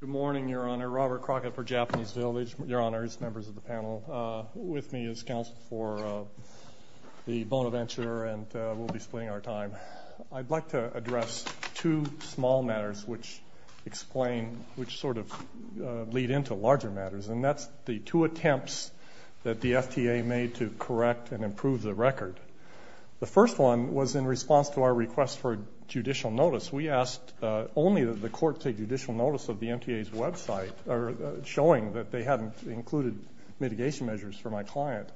Good morning, Your Honor. Robert Crockett for Japanese Village. Your Honors, members of the panel. With me is counsel for the Bonaventure, and we'll be splitting our time. I'd like to address two small matters which explain, which sort of lead into larger matters, and that's the two attempts that the FTA made to correct and improve the record. The first one was in response to our request for judicial notice. We asked only that the court take judicial notice of the MTA's website, showing that they hadn't included mitigation measures for my client.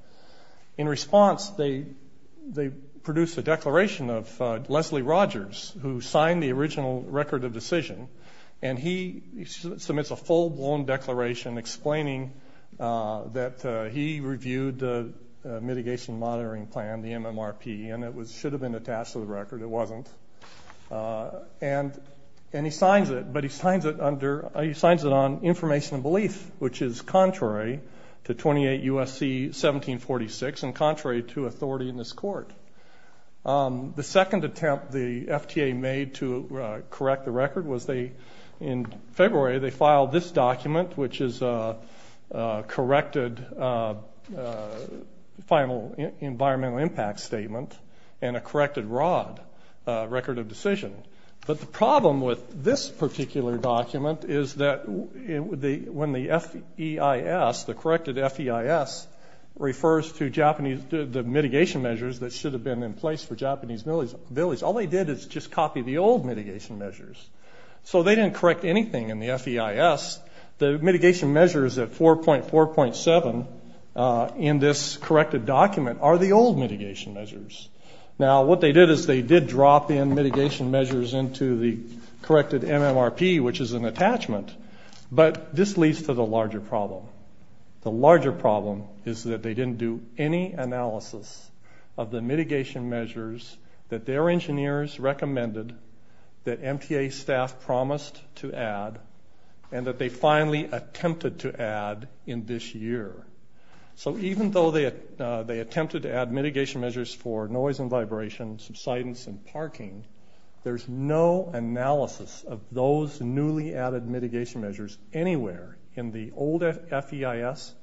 In response, they produced a declaration of Leslie Rogers, who signed the original record of decision, and he submits a full-blown declaration explaining that he reviewed the mitigation monitoring plan, the MMRP, and it should have been attached to the record. It wasn't, and he signs it, but he signs it under, he signs it on information and belief, which is contrary to 28 U.S.C. 1746 and contrary to authority in this court. The second attempt the FTA made to correct the record was they, in February, they filed this document, which is a corrected final environmental impact statement and a corrected ROD, record of decision. But the problem with this particular document is that when the FEIS, the corrected FEIS, refers to Japanese, the mitigation measures that should have been in place for Japanese millies, all they did is just copy the old mitigation measures. So they didn't correct anything in the FEIS. The mitigation measures at 4.4.7 in this corrected document are the old mitigation measures. Now, what they did is they did drop in mitigation measures into the corrected MMRP, which is an attachment, but this leads to the larger problem. The larger problem is that they didn't do any analysis of the mitigation measures that their engineers recommended, that MTA staff promised to add, and that they finally attempted to add in this year. So even though they attempted to add mitigation measures for noise and vibration, subsidence and parking, there's no analysis of those newly added mitigation measures anywhere in the old FEIS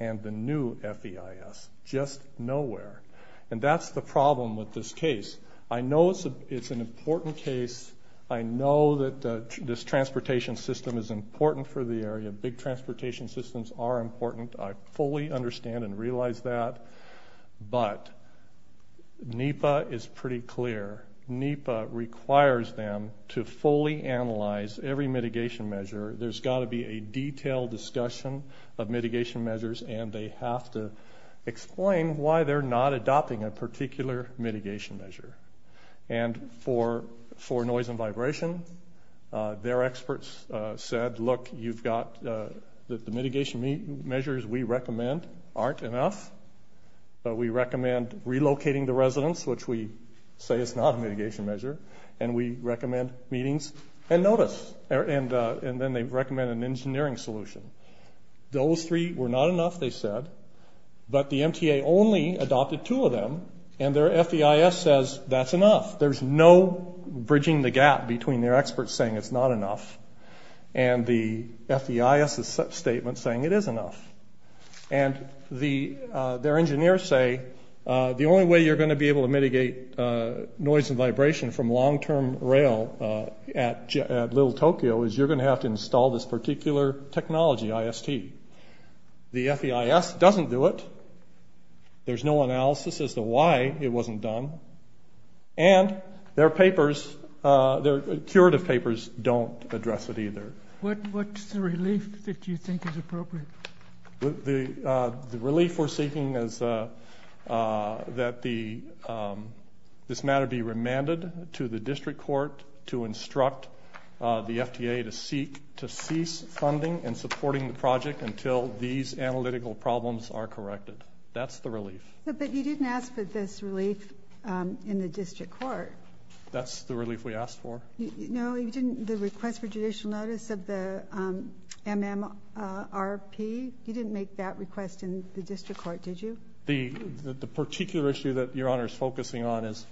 and the new FEIS. Just nowhere. And that's the problem with this case. I know it's an important case. I know that this transportation system is important for the area. Big transportation systems are important. I fully understand and realize that. But NEPA is pretty clear. NEPA requires them to fully analyze every mitigation measure. There's got to be a detailed discussion of mitigation measures, and they have to explain why they're not adopting a particular mitigation measure. And for noise and vibration, their experts said, look, you've got... The mitigation measures we recommend aren't enough, but we recommend relocating the residence, which we say is not a mitigation measure, and we recommend meetings and notice. And then they've recommended an engineering solution. Those three were not enough, they said, but the MTA only adopted two of them, and their FEIS says that's enough. There's no bridging the gap between their experts saying it's not enough and the FEIS' statement saying it is enough. And their engineers say, the only way you're going to be able to mitigate noise and vibration from long term rail at Little Tokyo is you're going to have to install this particular technology, IST. The FEIS doesn't do it. There's no analysis as to why it wasn't done. And their papers, their curative papers don't address it either. What's the relief that you think is appropriate? The relief we're asking that this matter be remanded to the district court to instruct the FTA to cease funding and supporting the project until these analytical problems are corrected. That's the relief. But you didn't ask for this relief in the district court. That's the relief we asked for. No, you didn't... The request for judicial notice of the MMRP, you didn't make that request in the district court, did you? The particular issue that Your Honor is focusing on is,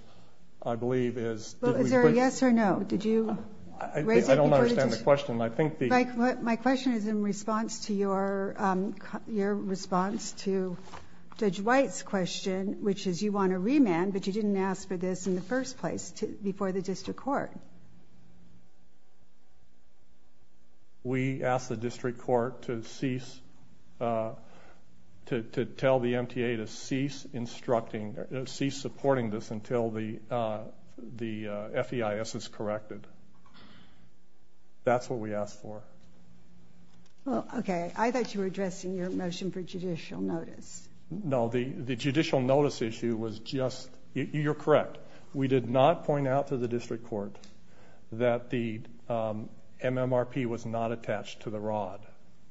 I believe, is... Is there a yes or no? Did you... I don't understand the question. I think the... Mike, my question is in response to your response to Judge White's question, which is you want a remand, but you didn't ask for this in the first place before the district court. We asked the district court to cease... To tell the MTA to cease instructing, to cease supporting this until the FEIS is corrected. That's what we asked for. Well, okay. I thought you were addressing your motion for judicial notice. No, the judicial notice issue was just... You're correct. We did not point out to the district court that the MMRP was not attached to the rod.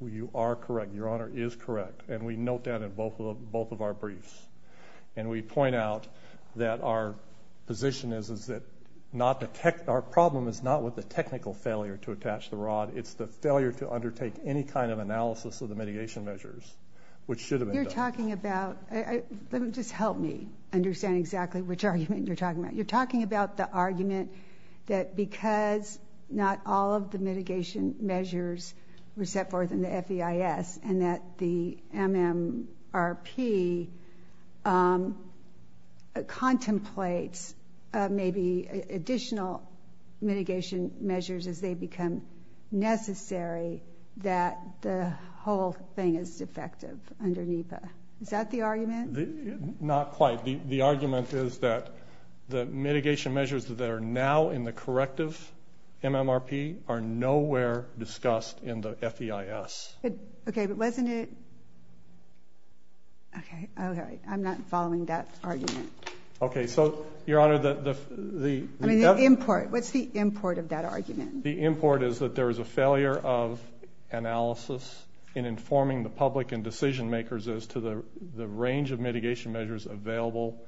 You are correct. Your Honor is correct. And we note that in both of our briefs. And we point out that our position is that not the tech... Our problem is not with the technical failure to attach the rod. It's the failure to undertake any kind of analysis of the mitigation measures, which should have been done. You're talking about... Let me... Just help me understand exactly which argument you're talking about. You're talking about the argument that because not all of the mitigation measures were set forth in the FEIS, and that the MMRP contemplates maybe additional mitigation measures as they become necessary, that the whole thing is defective under NEPA. Is that the argument? Not quite. The argument is that the mitigation measures that are now in the corrective MMRP are nowhere discussed in the FEIS. Okay, but wasn't it... Okay. Okay. I'm not following that argument. Okay. So, Your Honor, the... I mean, the import. What's the import of that argument? The import is that there is a failure of analysis in informing the public and decision makers as to the range of mitigation measures available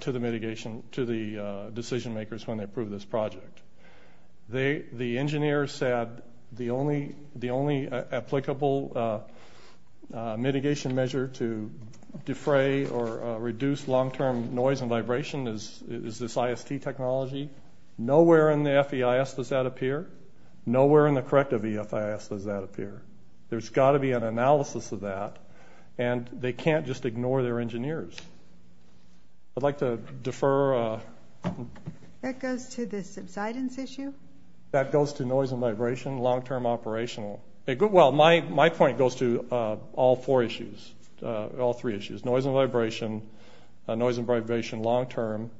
to the mitigation... to the decision makers when they approve this project. The engineers said the only... the only applicable mitigation measure to defray or reduce long-term noise and vibration is this IST technology. Nowhere in the FEIS does that appear. Nowhere in the corrective FEIS does that appear. There's got to be an analysis of that, and they can't just I'd like to defer... That goes to the subsidence issue? That goes to noise and vibration, long-term operational. Well, my point goes to all four issues, all three issues. Noise and vibration, noise and vibration long-term,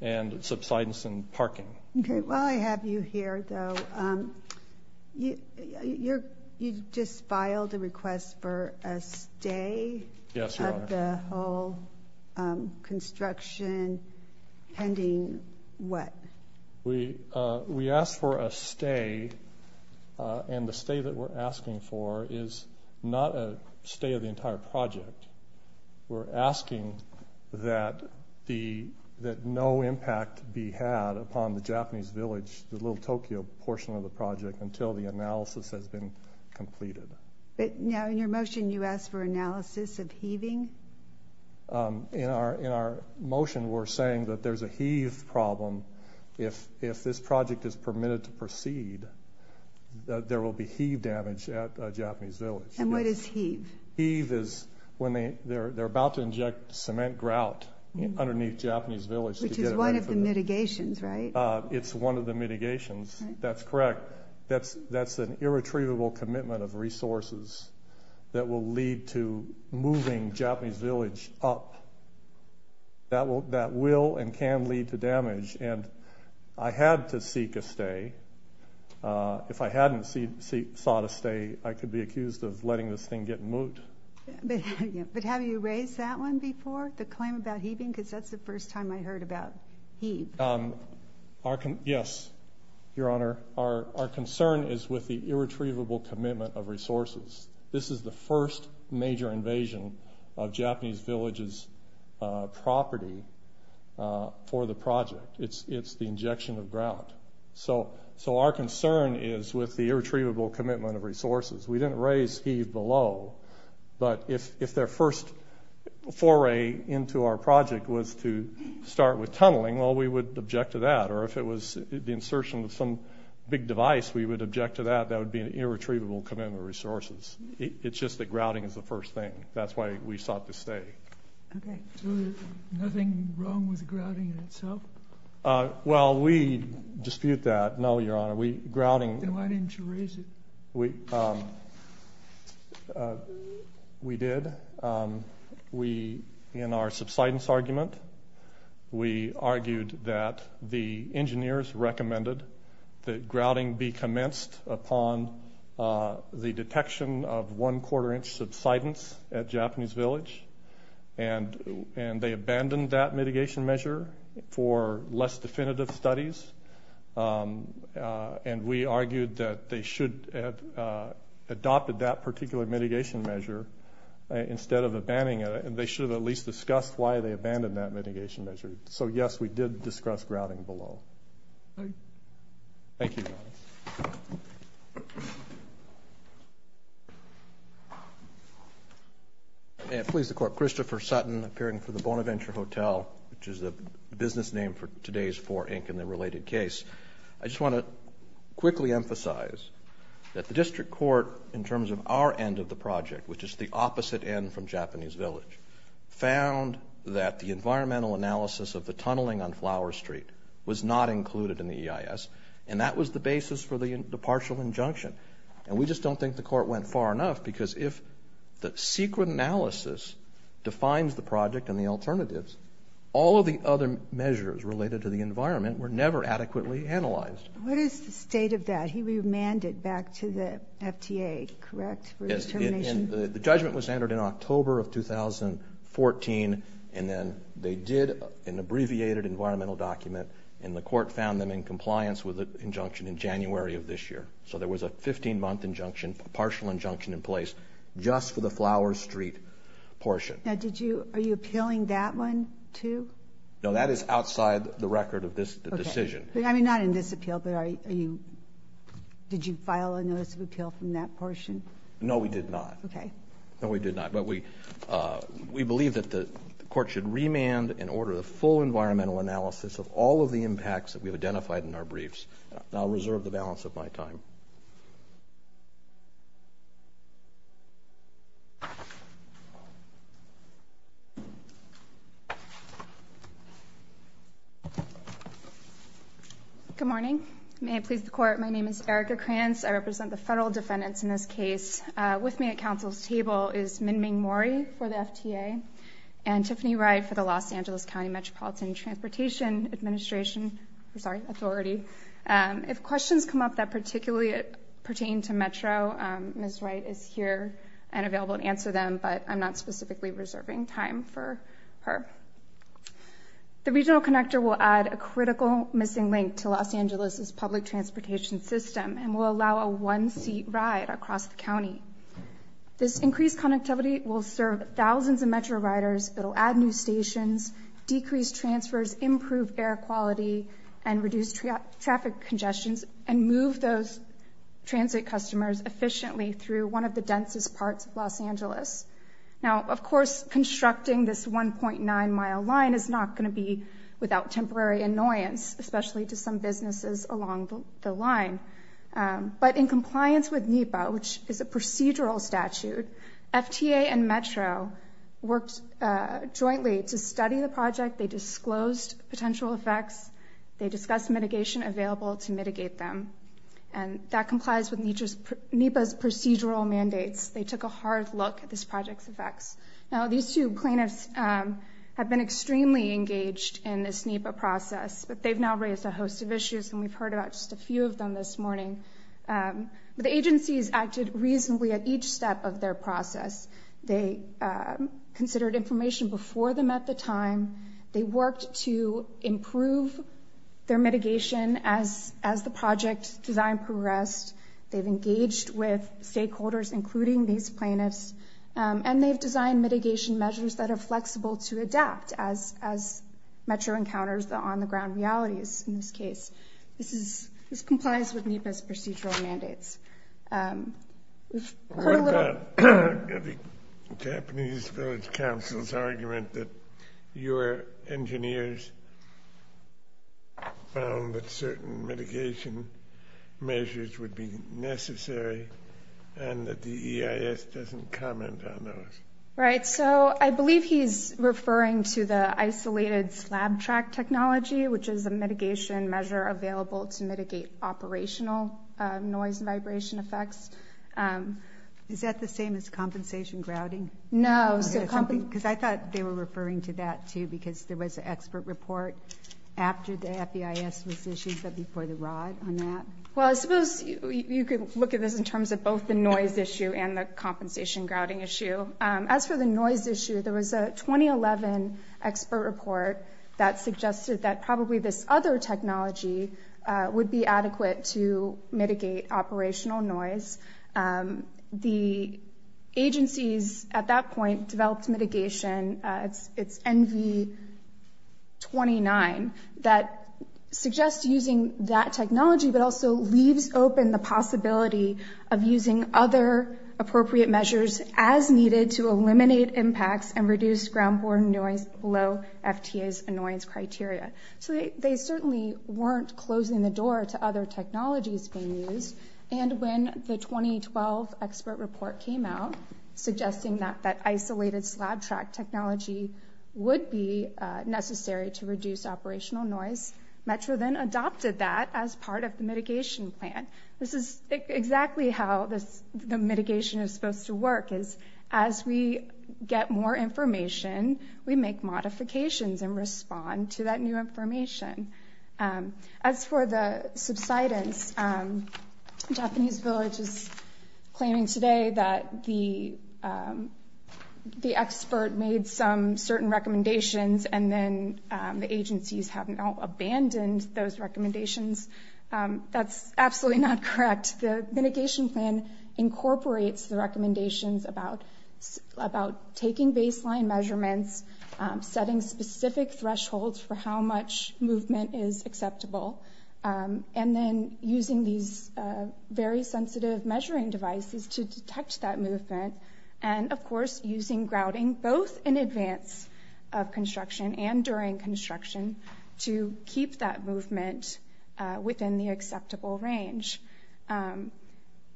and subsidence and parking. Okay. Well, I have you here, though. You just filed a stay... Yes, Your Honor. ...at the whole construction pending what? We asked for a stay, and the stay that we're asking for is not a stay of the entire project. We're asking that the... that no impact be had upon the Japanese village, the Little Tokyo portion of the project, until the analysis has been completed. But now, in your motion, you ask for analysis of heaving? In our motion, we're saying that there's a heave problem. If this project is permitted to proceed, there will be heave damage at a Japanese village. And what is heave? Heave is when they're about to inject cement grout underneath Japanese village. Which is one of the mitigations, right? It's one of the mitigations. That's correct. That's an irretrievable commitment of resources that will lead to moving Japanese village up. That will and can lead to damage. And I had to seek a stay. If I hadn't sought a stay, I could be accused of letting this thing get moot. But have you raised that one before, the claim about heaving? Because that's the first time I heard about heave. Yes, Your Honor. Our concern is with the irretrievable commitment of resources. This is the first major invasion of Japanese villages property for the project. It's the injection of grout. So our concern is with the irretrievable commitment of resources. We didn't raise heave below, but if their first foray into our project was to start with tunneling, well, we would object to that. Or if it was the insertion of some big device, we would object to that. That would be an irretrievable commitment of resources. It's just that grouting is the first thing. That's why we sought to stay. Okay. So nothing wrong with grouting in itself? Well, we dispute that. No, Your Honor. Grouting... In our subsidence argument, we argued that the engineers recommended that grouting be commenced upon the detection of one quarter inch subsidence at Japanese village, and they abandoned that mitigation measure for less definitive studies. And we argued that they should have adopted that particular mitigation measure instead of abandoning it. They should have at least discussed why they abandoned that mitigation measure. So, yes, we did discuss grouting below. Thank you, Your Honor. May it please the Court. Christopher Sutton, appearing for the Bonaventure Hotel, which is the business name for today's 4 Inc. and the related case. I just wanna quickly emphasize that the District Court, in terms of our end of the project, which is the environmental analysis of the tunneling on Flower Street was not included in the EIS, and that was the basis for the partial injunction. And we just don't think the Court went far enough, because if the secret analysis defines the project and the alternatives, all of the other measures related to the environment were never adequately analyzed. What is the state of that? He remanded back to the And then they did an abbreviated environmental document, and the Court found them in compliance with the injunction in January of this year. So there was a 15-month injunction, partial injunction in place, just for the Flower Street portion. Now, are you appealing that one, too? No, that is outside the record of this decision. I mean, not in this appeal, but did you file a notice of appeal from that portion? No, we did not. Okay. No, we did not. The Court should remand and order the full environmental analysis of all of the impacts that we've identified in our briefs. And I'll reserve the balance of my time. Good morning. May it please the Court, my name is Erica Kranz. I represent the federal defendants in this case. With me at Council's table is Minming Mori for the FTA, and Tiffany Wright for the Los Angeles County Metropolitan Transportation Administration, I'm sorry, Authority. If questions come up that particularly pertain to Metro, Ms. Wright is here and available to answer them, but I'm not specifically reserving time for her. The Regional Connector will add a critical missing link to Los Angeles' public transportation system and will allow a one-seat ride across the county. This increased connectivity will serve thousands of Metro riders, it'll add new stations, decrease transfers, improve air quality, and reduce traffic congestions, and move those transit customers efficiently through one of the densest parts of Los Angeles. Now, of course, constructing this 1.9 mile line is not going to be without temporary annoyance, especially to some businesses along the line. But in compliance with NEPA, which is a procedural statute, FTA and Metro worked jointly to study the project, they disclosed potential effects, they discussed mitigation available to mitigate them, and that complies with NEPA's procedural mandates. They took a hard look at this project's effects. Now, these two plaintiffs have been extremely engaged in this NEPA process, but they've now raised a host of issues, and we've heard about just a few of them this morning. The agencies acted reasonably at each step of their process. They considered information before them at the time, they worked to improve their mitigation as the project design progressed, they've engaged with stakeholders, including these plaintiffs, and they've designed mitigation measures that are flexible to adapt as Metro encounters the on-the-ground realities in this case. This complies with NEPA's procedural mandates. What about the Japanese Village Council's argument that your engineers found that certain mitigation measures would be necessary, and that the EIS doesn't comment on those? Right, so I believe he's referring to the isolated slab track technology, which is a mitigation measure available to mitigate operational noise and vibration effects. Is that the same as compensation grouting? No. Because I thought they were referring to that too, because there was an expert report after the FEIS was issued, but before the R.O.D. on that. Well, I suppose you could look at this in terms of both the noise issue and the compensation grouting issue. As for the noise issue, there was a 2011 expert report that suggested that probably this other technology would be adequate to mitigate operational noise. The agencies at that point developed mitigation, it's NV29, that suggests using that technology, but also leaves open the possibility of using other appropriate measures as needed to eliminate impacts and reduce ground borne noise below FTA's annoyance criteria. So they certainly weren't closing the door to other technologies being used. And when the 2012 expert report came out, suggesting that isolated slab track technology would be necessary to reduce operational noise, Metro then adopted that as part of the mitigation plan. This is exactly how the mitigation is supposed to work, is as we get more information, we make modifications and respond to that new information. As for the subsidence, Japanese Village is claiming today that the expert made some certain recommendations and then the agencies have now abandoned those recommendations. That's absolutely not correct. The mitigation plan incorporates the recommendations about taking baseline measurements, setting specific thresholds for how much movement is acceptable, and then using these very sensitive measuring devices to detect that movement. And of course, using grouting, both in advance of construction and during construction, to keep that movement within the acceptable range.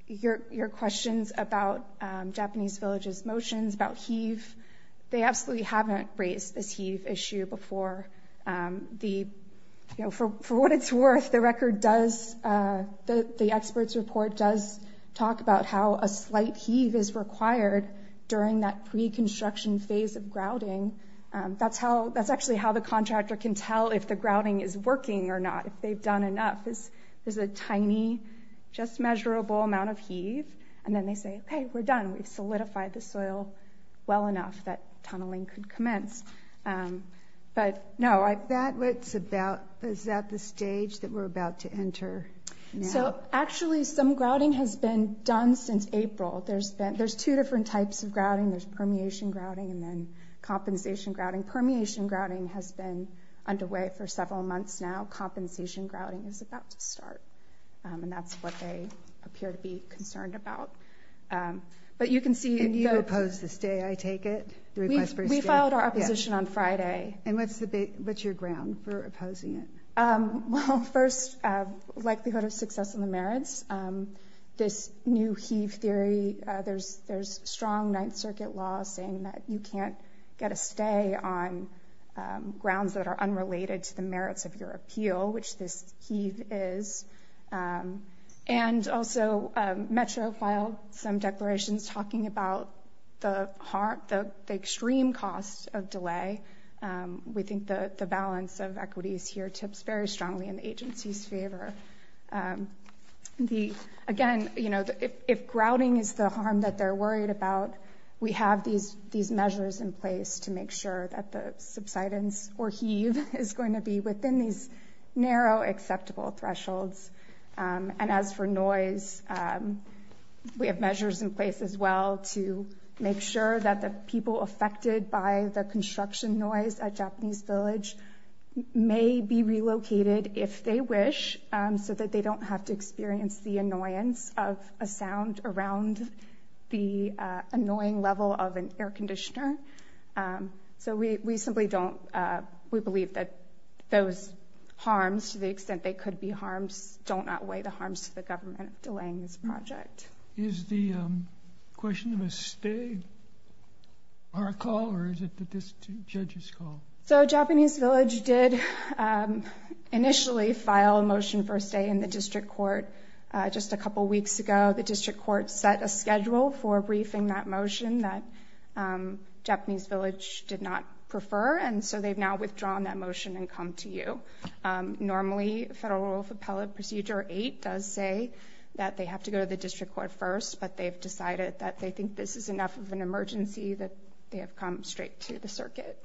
Your questions about Japanese Village's motions about heave, they absolutely haven't raised this heave issue before. For what it's worth, the expert's report does talk about how a pre-construction phase of grouting, that's actually how the contractor can tell if the grouting is working or not, if they've done enough. There's a tiny, just measurable amount of heave, and then they say, okay, we're done. We've solidified the soil well enough that tunneling could commence. But no, I... That's what it's about. Is that the stage that we're about to enter? So actually, some grouting has been done since April. There's two different types of grouting. There's permeation grouting and then compensation grouting. Permeation grouting has been underway for several months now. Compensation grouting is about to start. And that's what they appear to be concerned about. But you can see... And you oppose the stay, I take it? The request for a stay? We followed our opposition on Friday. And what's your ground for opposing it? Well, first, likelihood of success in the merits. This new heave theory, there's strong Ninth Circuit law saying that you can't get a stay on grounds that are unrelated to the merits of your appeal, which this heave is. And also, Metro filed some declarations talking about the harm, the extreme cost of delay. We think the balance of equities here tips very strongly in the agency's favor. Again, if grouting is the harm that they're worried about, we have these measures in place to make sure that the subsidence or heave is going to be within these narrow acceptable thresholds. And as for noise, we have measures in place as well to make sure that the people affected by the construction noise at Japanese Village may be relocated if they wish, so that they don't have to experience the annoyance of a sound around the annoying level of an air conditioner. So we simply don't... We believe that those harms, to the extent they could be harms, don't outweigh the harms to the government delaying this project. Is the question of a stay on call or is it the judge's call? So Japanese Village did initially file a motion for a stay in the district court. Just a couple of weeks ago, the district court set a schedule for briefing that motion that Japanese Village did not prefer, and so they've now withdrawn that motion and come to you. Normally, Federal Rule of Appellate Procedure 8 does say that they have to go to the district court first, but they've decided that they think this is enough of an emergency that they have come straight to the circuit.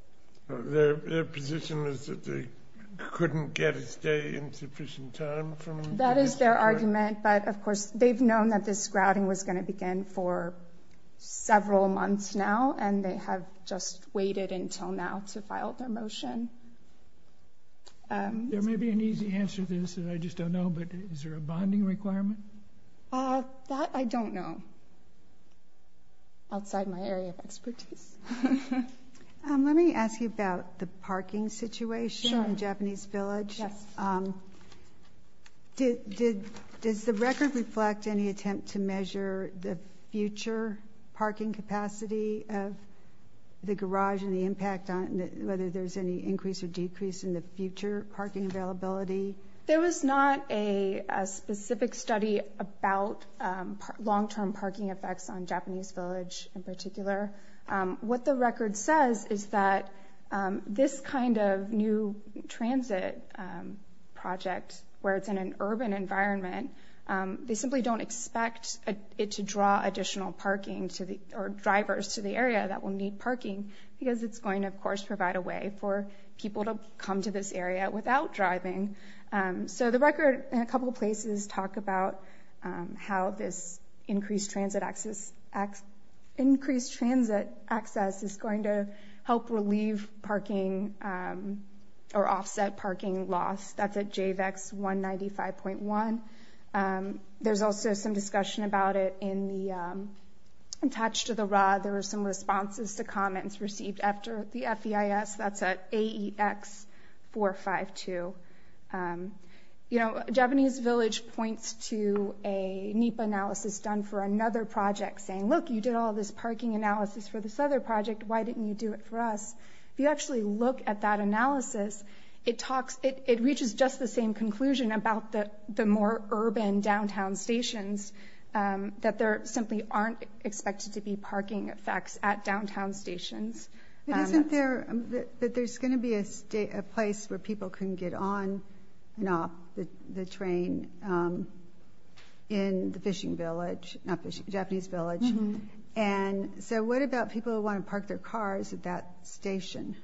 Their position is that they couldn't get a stay in sufficient time from... That is their argument, but of course, they've known that this grouting was gonna begin for several months now, and they have just waited until now to file their motion. There may be an easy answer to this, and I just don't know, but is there a bonding requirement? That, I don't know. Outside my area of expertise. Let me ask you about the parking situation in Japanese Village. Yes. Does the record reflect any attempt to measure the future parking capacity of the garage and the impact on whether there's any increase or decrease in the future parking availability? There was not a specific study about long term parking effects on Japanese Village in particular. What the record says is that this kind of new transit project, where it's in an urban environment, they simply don't expect it to draw additional parking to the... Or drivers to the area that will need parking, because it's going to, of course, provide a way for people to come to this area without driving. So the record, in a couple of places, talk about how this increased transit access is going to help relieve parking or offset parking loss. That's at JVEX 195.1. There's also some discussion about it in the... Attached to the RAW, there were some 452. Japanese Village points to a NEPA analysis done for another project, saying, look, you did all this parking analysis for this other project, why didn't you do it for us? If you actually look at that analysis, it reaches just the same conclusion about the more urban downtown stations, that there simply aren't expected to be parking effects at downtown stations. But isn't there... That there's gonna be a place where people can get on and off the train in the fishing village, not fishing, Japanese Village. And so what about people who wanna park their cars at that station?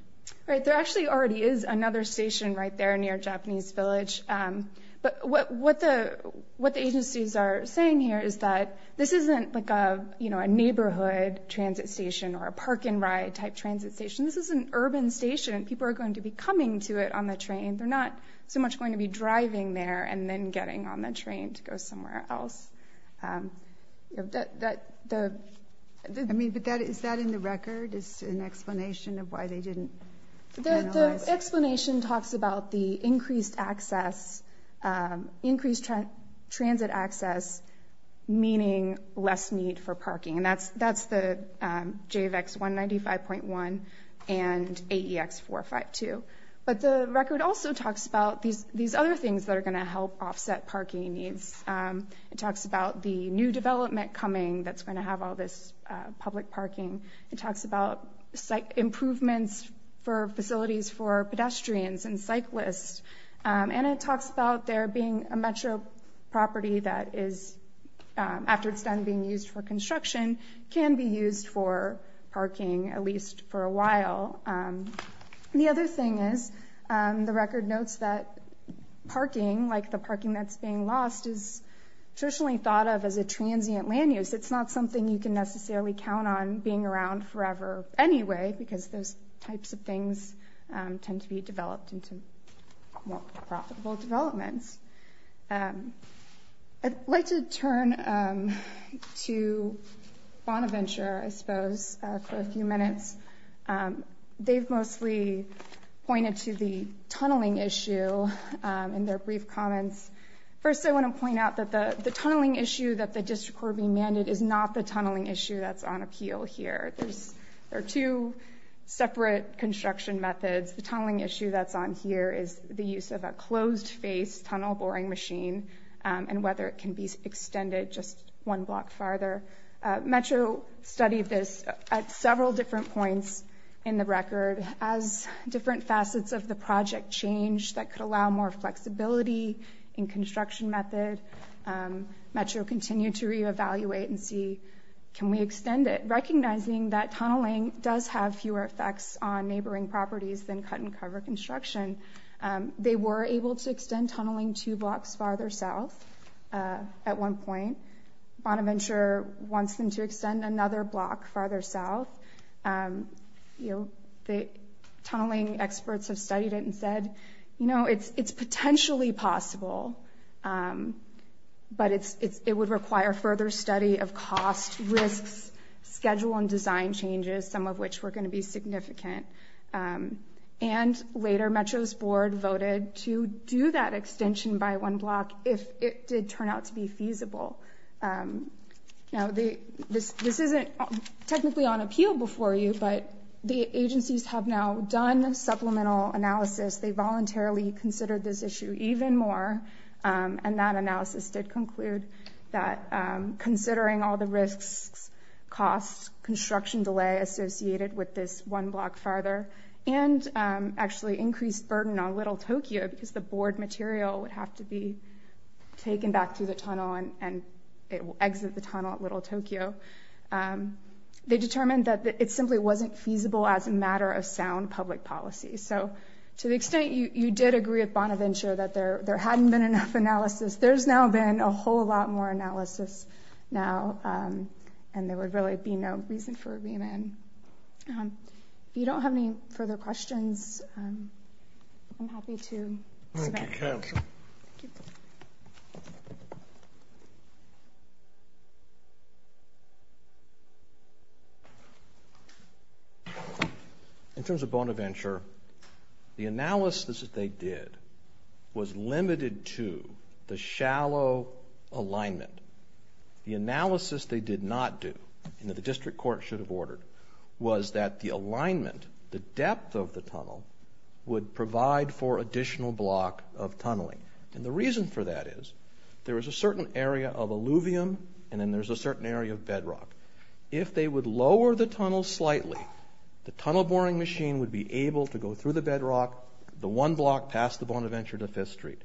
Right, there actually already is another station right there near Japanese Village. But what the agencies are saying here is that this isn't like a neighborhood transit station or a park and ride type transit station. This is an urban station, people are going to be coming to it on the train. They're not so much going to be driving there and then getting on the train to go somewhere else. Is that in the record? Is there an explanation of why they didn't analyze it? The explanation talks about the increased access, increased transit access, meaning less need for parking. And that's the JVACS 195.1 and AEX 452. But the record also talks about these other things that are gonna help offset parking needs. It talks about the new development coming that's gonna have all this public parking. It talks about improvements for facilities for pedestrians and cyclists. And it talks about there being a metro property that is, after it's done being used for construction, can be used for parking, at least for a while. The other thing is, the record notes that parking, like the parking that's being lost, is traditionally thought of as a transient land use. It's not something you can necessarily count on being around forever anyway, because those types of things tend to be developed into more profitable developments. I'd like to turn to Bonaventure, I suppose, for a few minutes. They've mostly pointed to the tunneling issue in their brief comments. First, I wanna point out that the tunneling issue that the district court being mandated is not the tunneling issue that's on appeal here. There are two separate construction methods. The tunneling issue that's on here is the use of a closed face tunnel boring machine and whether it can be extended just one block farther. Metro studied this at several different points in the record as different facets of the project changed that could allow more flexibility in construction method. Metro continued to reevaluate and see, can we extend it, recognizing that tunneling does have fewer effects on neighboring properties than cut and cover construction. They were able to extend tunneling two blocks farther south at one point. Bonaventure wants them to extend another block farther south. The tunneling experts have studied it and said, it's potentially possible, but it would require further study of cost, risks, schedule, and design changes, some of which were gonna be significant. And later, Metro's board voted to do that extension by one block if it did turn out to be feasible. Now, this isn't technically on appeal before you, but the agencies have now done supplemental analysis. They voluntarily considered this issue even more, and that analysis did conclude that considering all the risks, costs, construction delay associated with this one block farther, and actually increased burden on Little Tokyo, because the bored material would have to be taken back through the tunnel and it will exit the tunnel at Little Tokyo. They determined that it simply wasn't feasible as a matter of sound public policy. So to the extent you did agree with Bonaventure that there hadn't been enough analysis, there's now been a whole lot more analysis now, and there would really be no reason for a remand. If you don't have any further questions, I'm happy to submit. Thank you, Council. In terms of Bonaventure, the analysis that they did was limited to the shallow alignment. The analysis they did not do, and that the district court should have ordered, was that the alignment, the depth of the tunnel would provide for additional block of tunneling. And the reason for that is there is a certain area of alluvium, and then there's a certain area of bedrock. If they would lower the tunnel slightly, the tunnel boring machine would be able to go through the bedrock, the one block past the Bonaventure to Fifth Street.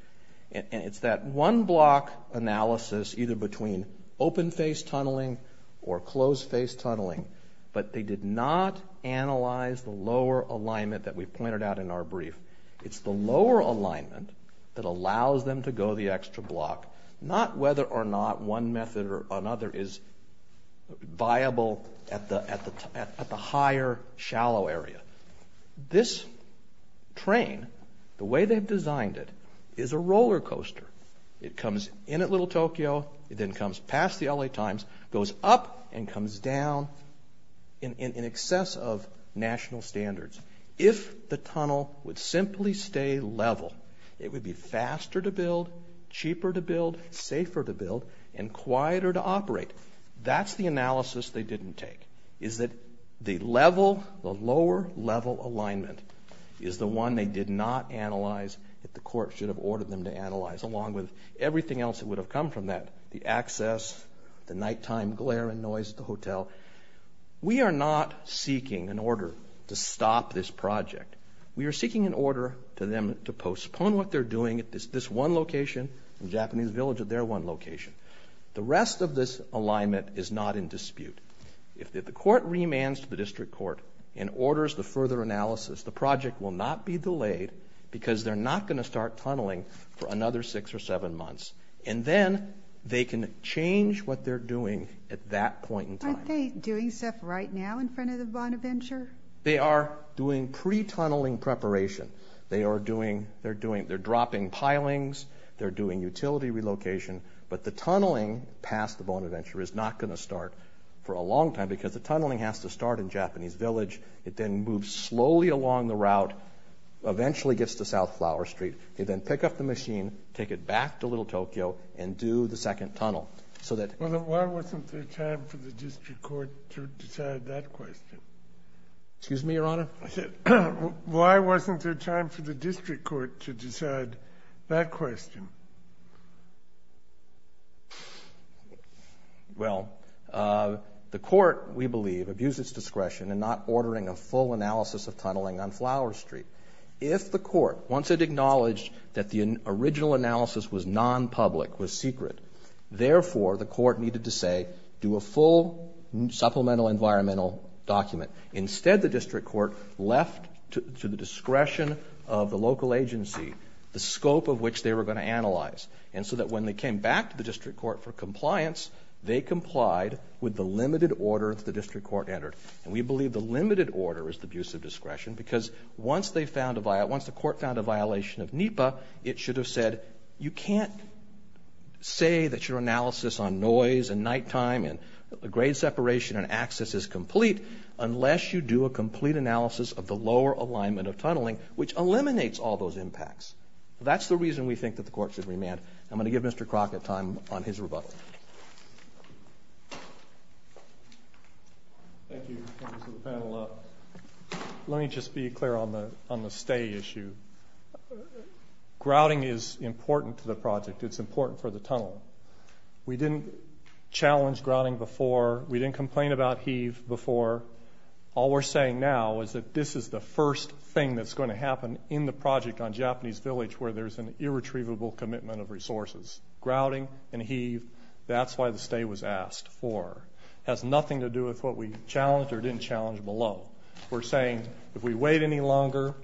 And it's that one block analysis either between open face tunneling or closed face tunneling, but they did not analyze the lower alignment that we pointed out in our brief. It's the lower alignment that allows them to go the extra block, not whether or not one method or another is viable at the higher, shallow area. This train, the way they've designed it, is a roller coaster. It comes in at Little Tokyo, it then comes past the LA Times, goes up and comes down in excess of national standards. If the tunnel would simply stay level, it would be faster to build, cheaper to build, safer to build, and quieter to operate. That's the analysis they didn't take, is that the level, the lower level alignment is the one they did not analyze, that the court should have ordered them to analyze, along with everything else that would have come from that, the access, the nighttime glare and noise at the hotel. We are not seeking an order to stop this project. We are seeking an order to them to postpone what they're doing at this one location, the Japanese village at their one location. The rest of this alignment is not in dispute. If the court remands to the district court and orders the further analysis, the project will not be delayed because they're not gonna start tunneling for another six or seven months. And then they can change what they're doing at that point in time. Aren't they doing stuff right now in front of the Bonaventure? They are doing pre-tunneling preparation. They are doing... They're dropping pilings. They're doing utility relocation. But the tunneling past the Bonaventure is not gonna start for a long time because the tunneling has to start in Japanese village. It then moves slowly along the route, eventually gets to South Flower Street. They then pick up the machine, take it back to Little Tokyo and do the second tunnel so that... Well, then why wasn't there time for the district court to decide that question? Excuse me, Your Honor? I said, why wasn't there time for the district court to decide that question? Well, the court, we believe, abused its discretion in not ordering a full analysis of tunneling on Flower Street. If the court, once it acknowledged that the original analysis was non-public, was secret, therefore, the court needed to say, do a full supplemental environmental document. Instead, the district court left to the discretion of the local agency the scope of which they were gonna analyze. And so that when they came back to the district court for compliance, they complied with the limited order that the district court entered. And we believe the limited order is the abuse of discretion because once they found a... Once the court found a violation of NEPA, it should have said, you can't say that your analysis on noise and night time and grade separation and access is complete unless you do a complete analysis of the lower alignment of tunneling, which eliminates all those impacts. That's the reason we think that the court should remand. I'm gonna give Mr. Crockett time on his rebuttal. Thank you, Mr. Panel. Let me just be clear on the stay issue. Grouting is challenged, grouting before. We didn't complain about heave before. All we're saying now is that this is the first thing that's going to happen in the project on Japanese Village where there's an irretrievable commitment of resources. Grouting and heave, that's why the stay was asked for. Has nothing to do with what we challenged or didn't challenge below. We're saying if we wait any longer,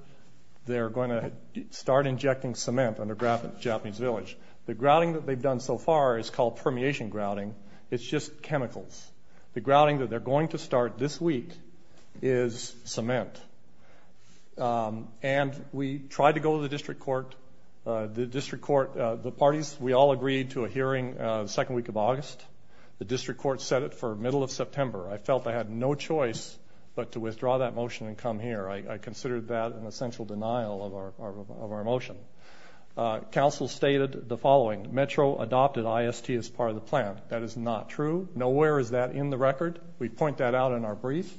they're gonna start injecting cement on the Japanese Village. The grouting, it's not permeation grouting, it's just chemicals. The grouting that they're going to start this week is cement. And we tried to go to the district court. The district court, the parties, we all agreed to a hearing the second week of August. The district court set it for middle of September. I felt I had no choice but to withdraw that motion and come here. I considered that an essential denial of our motion. Council stated the following, Metro adopted IST as part of the plan. That is not true. Nowhere is that in the record. We point that out in our brief,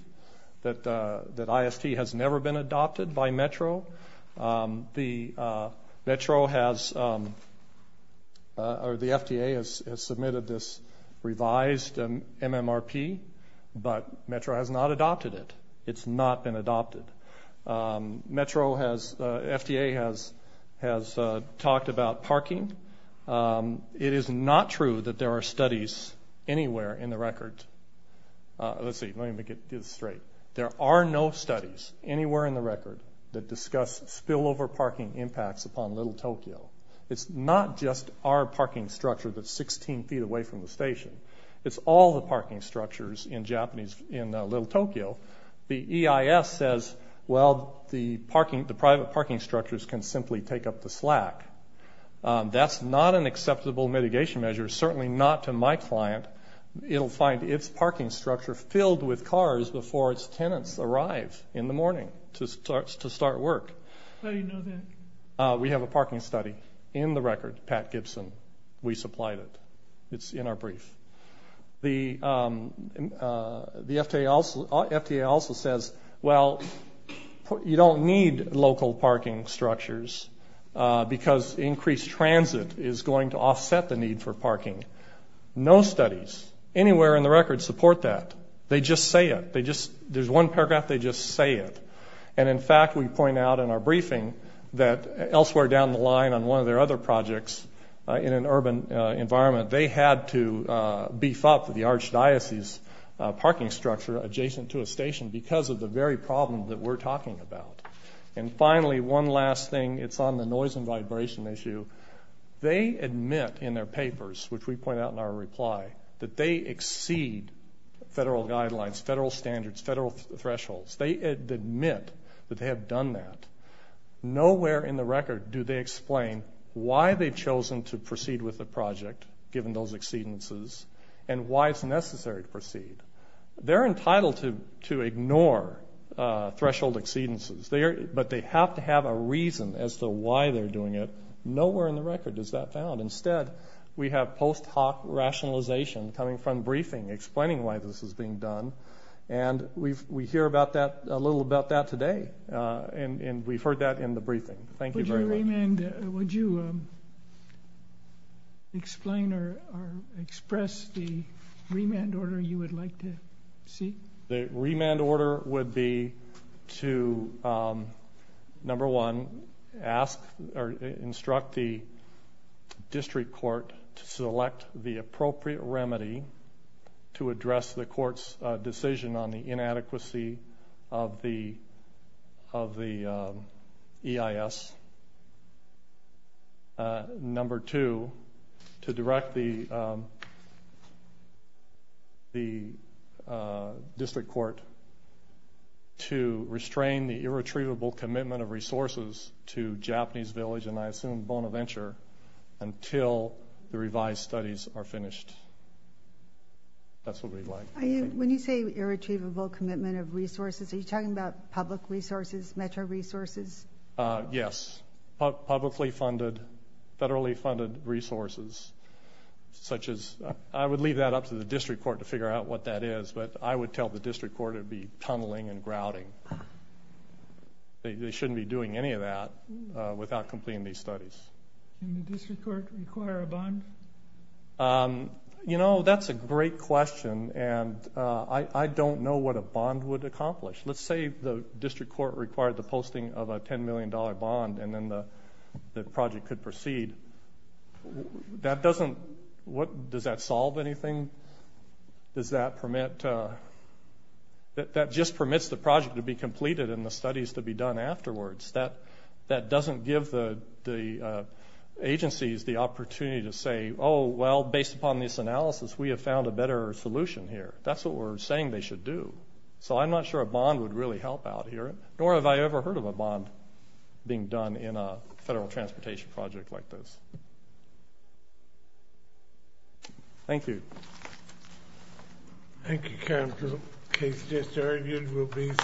that IST has never been adopted by Metro. The FDA has submitted this revised MMRP, but Metro has not adopted it. It's not been adopted. Metro has, FDA has talked about parking. It is not true that there are studies anywhere in the record. Let's see, let me make it straight. There are no studies anywhere in the record that discuss spillover parking impacts upon Little Tokyo. It's not just our parking structure that's 16 feet away from the station. It's all the parking structures in Little Tokyo. The EIS says, well, the parking, the private parking structures can simply take up the slack. That's not an acceptable mitigation measure, certainly not to my client. It'll find its parking structure filled with cars before its tenants arrive in the morning to start work. How do you know that? We have a parking study in the record, Pat Gibson. We supplied it. It's in our FDA also says, well, you don't need local parking structures because increased transit is going to offset the need for parking. No studies anywhere in the record support that. They just say it. They just, there's one paragraph, they just say it. And in fact, we point out in our briefing that elsewhere down the line on one of their other projects in an urban environment, they had to beef up the archdiocese parking structure adjacent to a station because of the very problem that we're talking about. And finally, one last thing, it's on the noise and vibration issue. They admit in their papers, which we point out in our reply, that they exceed federal guidelines, federal standards, federal thresholds. They admit that they have done that. Nowhere in the record do they explain why they've chosen to proceed with the project, given those exceedances, and why it's necessary to proceed. They're entitled to ignore threshold exceedances, but they have to have a reason as to why they're doing it. Nowhere in the record is that found. Instead, we have post hoc rationalization coming from briefing, explaining why this is being done. And we hear about that, a little about that today. And we've heard that in the express the remand order you would like to see. The remand order would be to number one, ask or instruct the district court to select the appropriate remedy to address the court's decision on the inadequacy of the of the E. I. S. Act. Number two, to direct the district court to restrain the irretrievable commitment of resources to Japanese village, and I assume Bonaventure, until the revised studies are finished. That's what we'd like. When you say irretrievable commitment of resources, are you talking about public resources, metro resources? Yes. Publicly funded, federally funded resources, such as I would leave that up to the district court to figure out what that is. But I would tell the district court it would be tunneling and grouting. They shouldn't be doing any of that without completing these studies. Can the district court require a bond? You know, that's a great question, and I don't know what a bond would be, a $10 million bond, and then the project could proceed. Does that solve anything? Does that permit? That just permits the project to be completed and the studies to be done afterwards. That doesn't give the agencies the opportunity to say, oh, well, based upon this analysis, we have found a better solution here. That's what we're saying they should do. So I'm not sure a bond would really help out here, nor have I ever heard of a bond being done in a federal transportation project like this. Thank you. Thank you, Councilor. The case disargued will be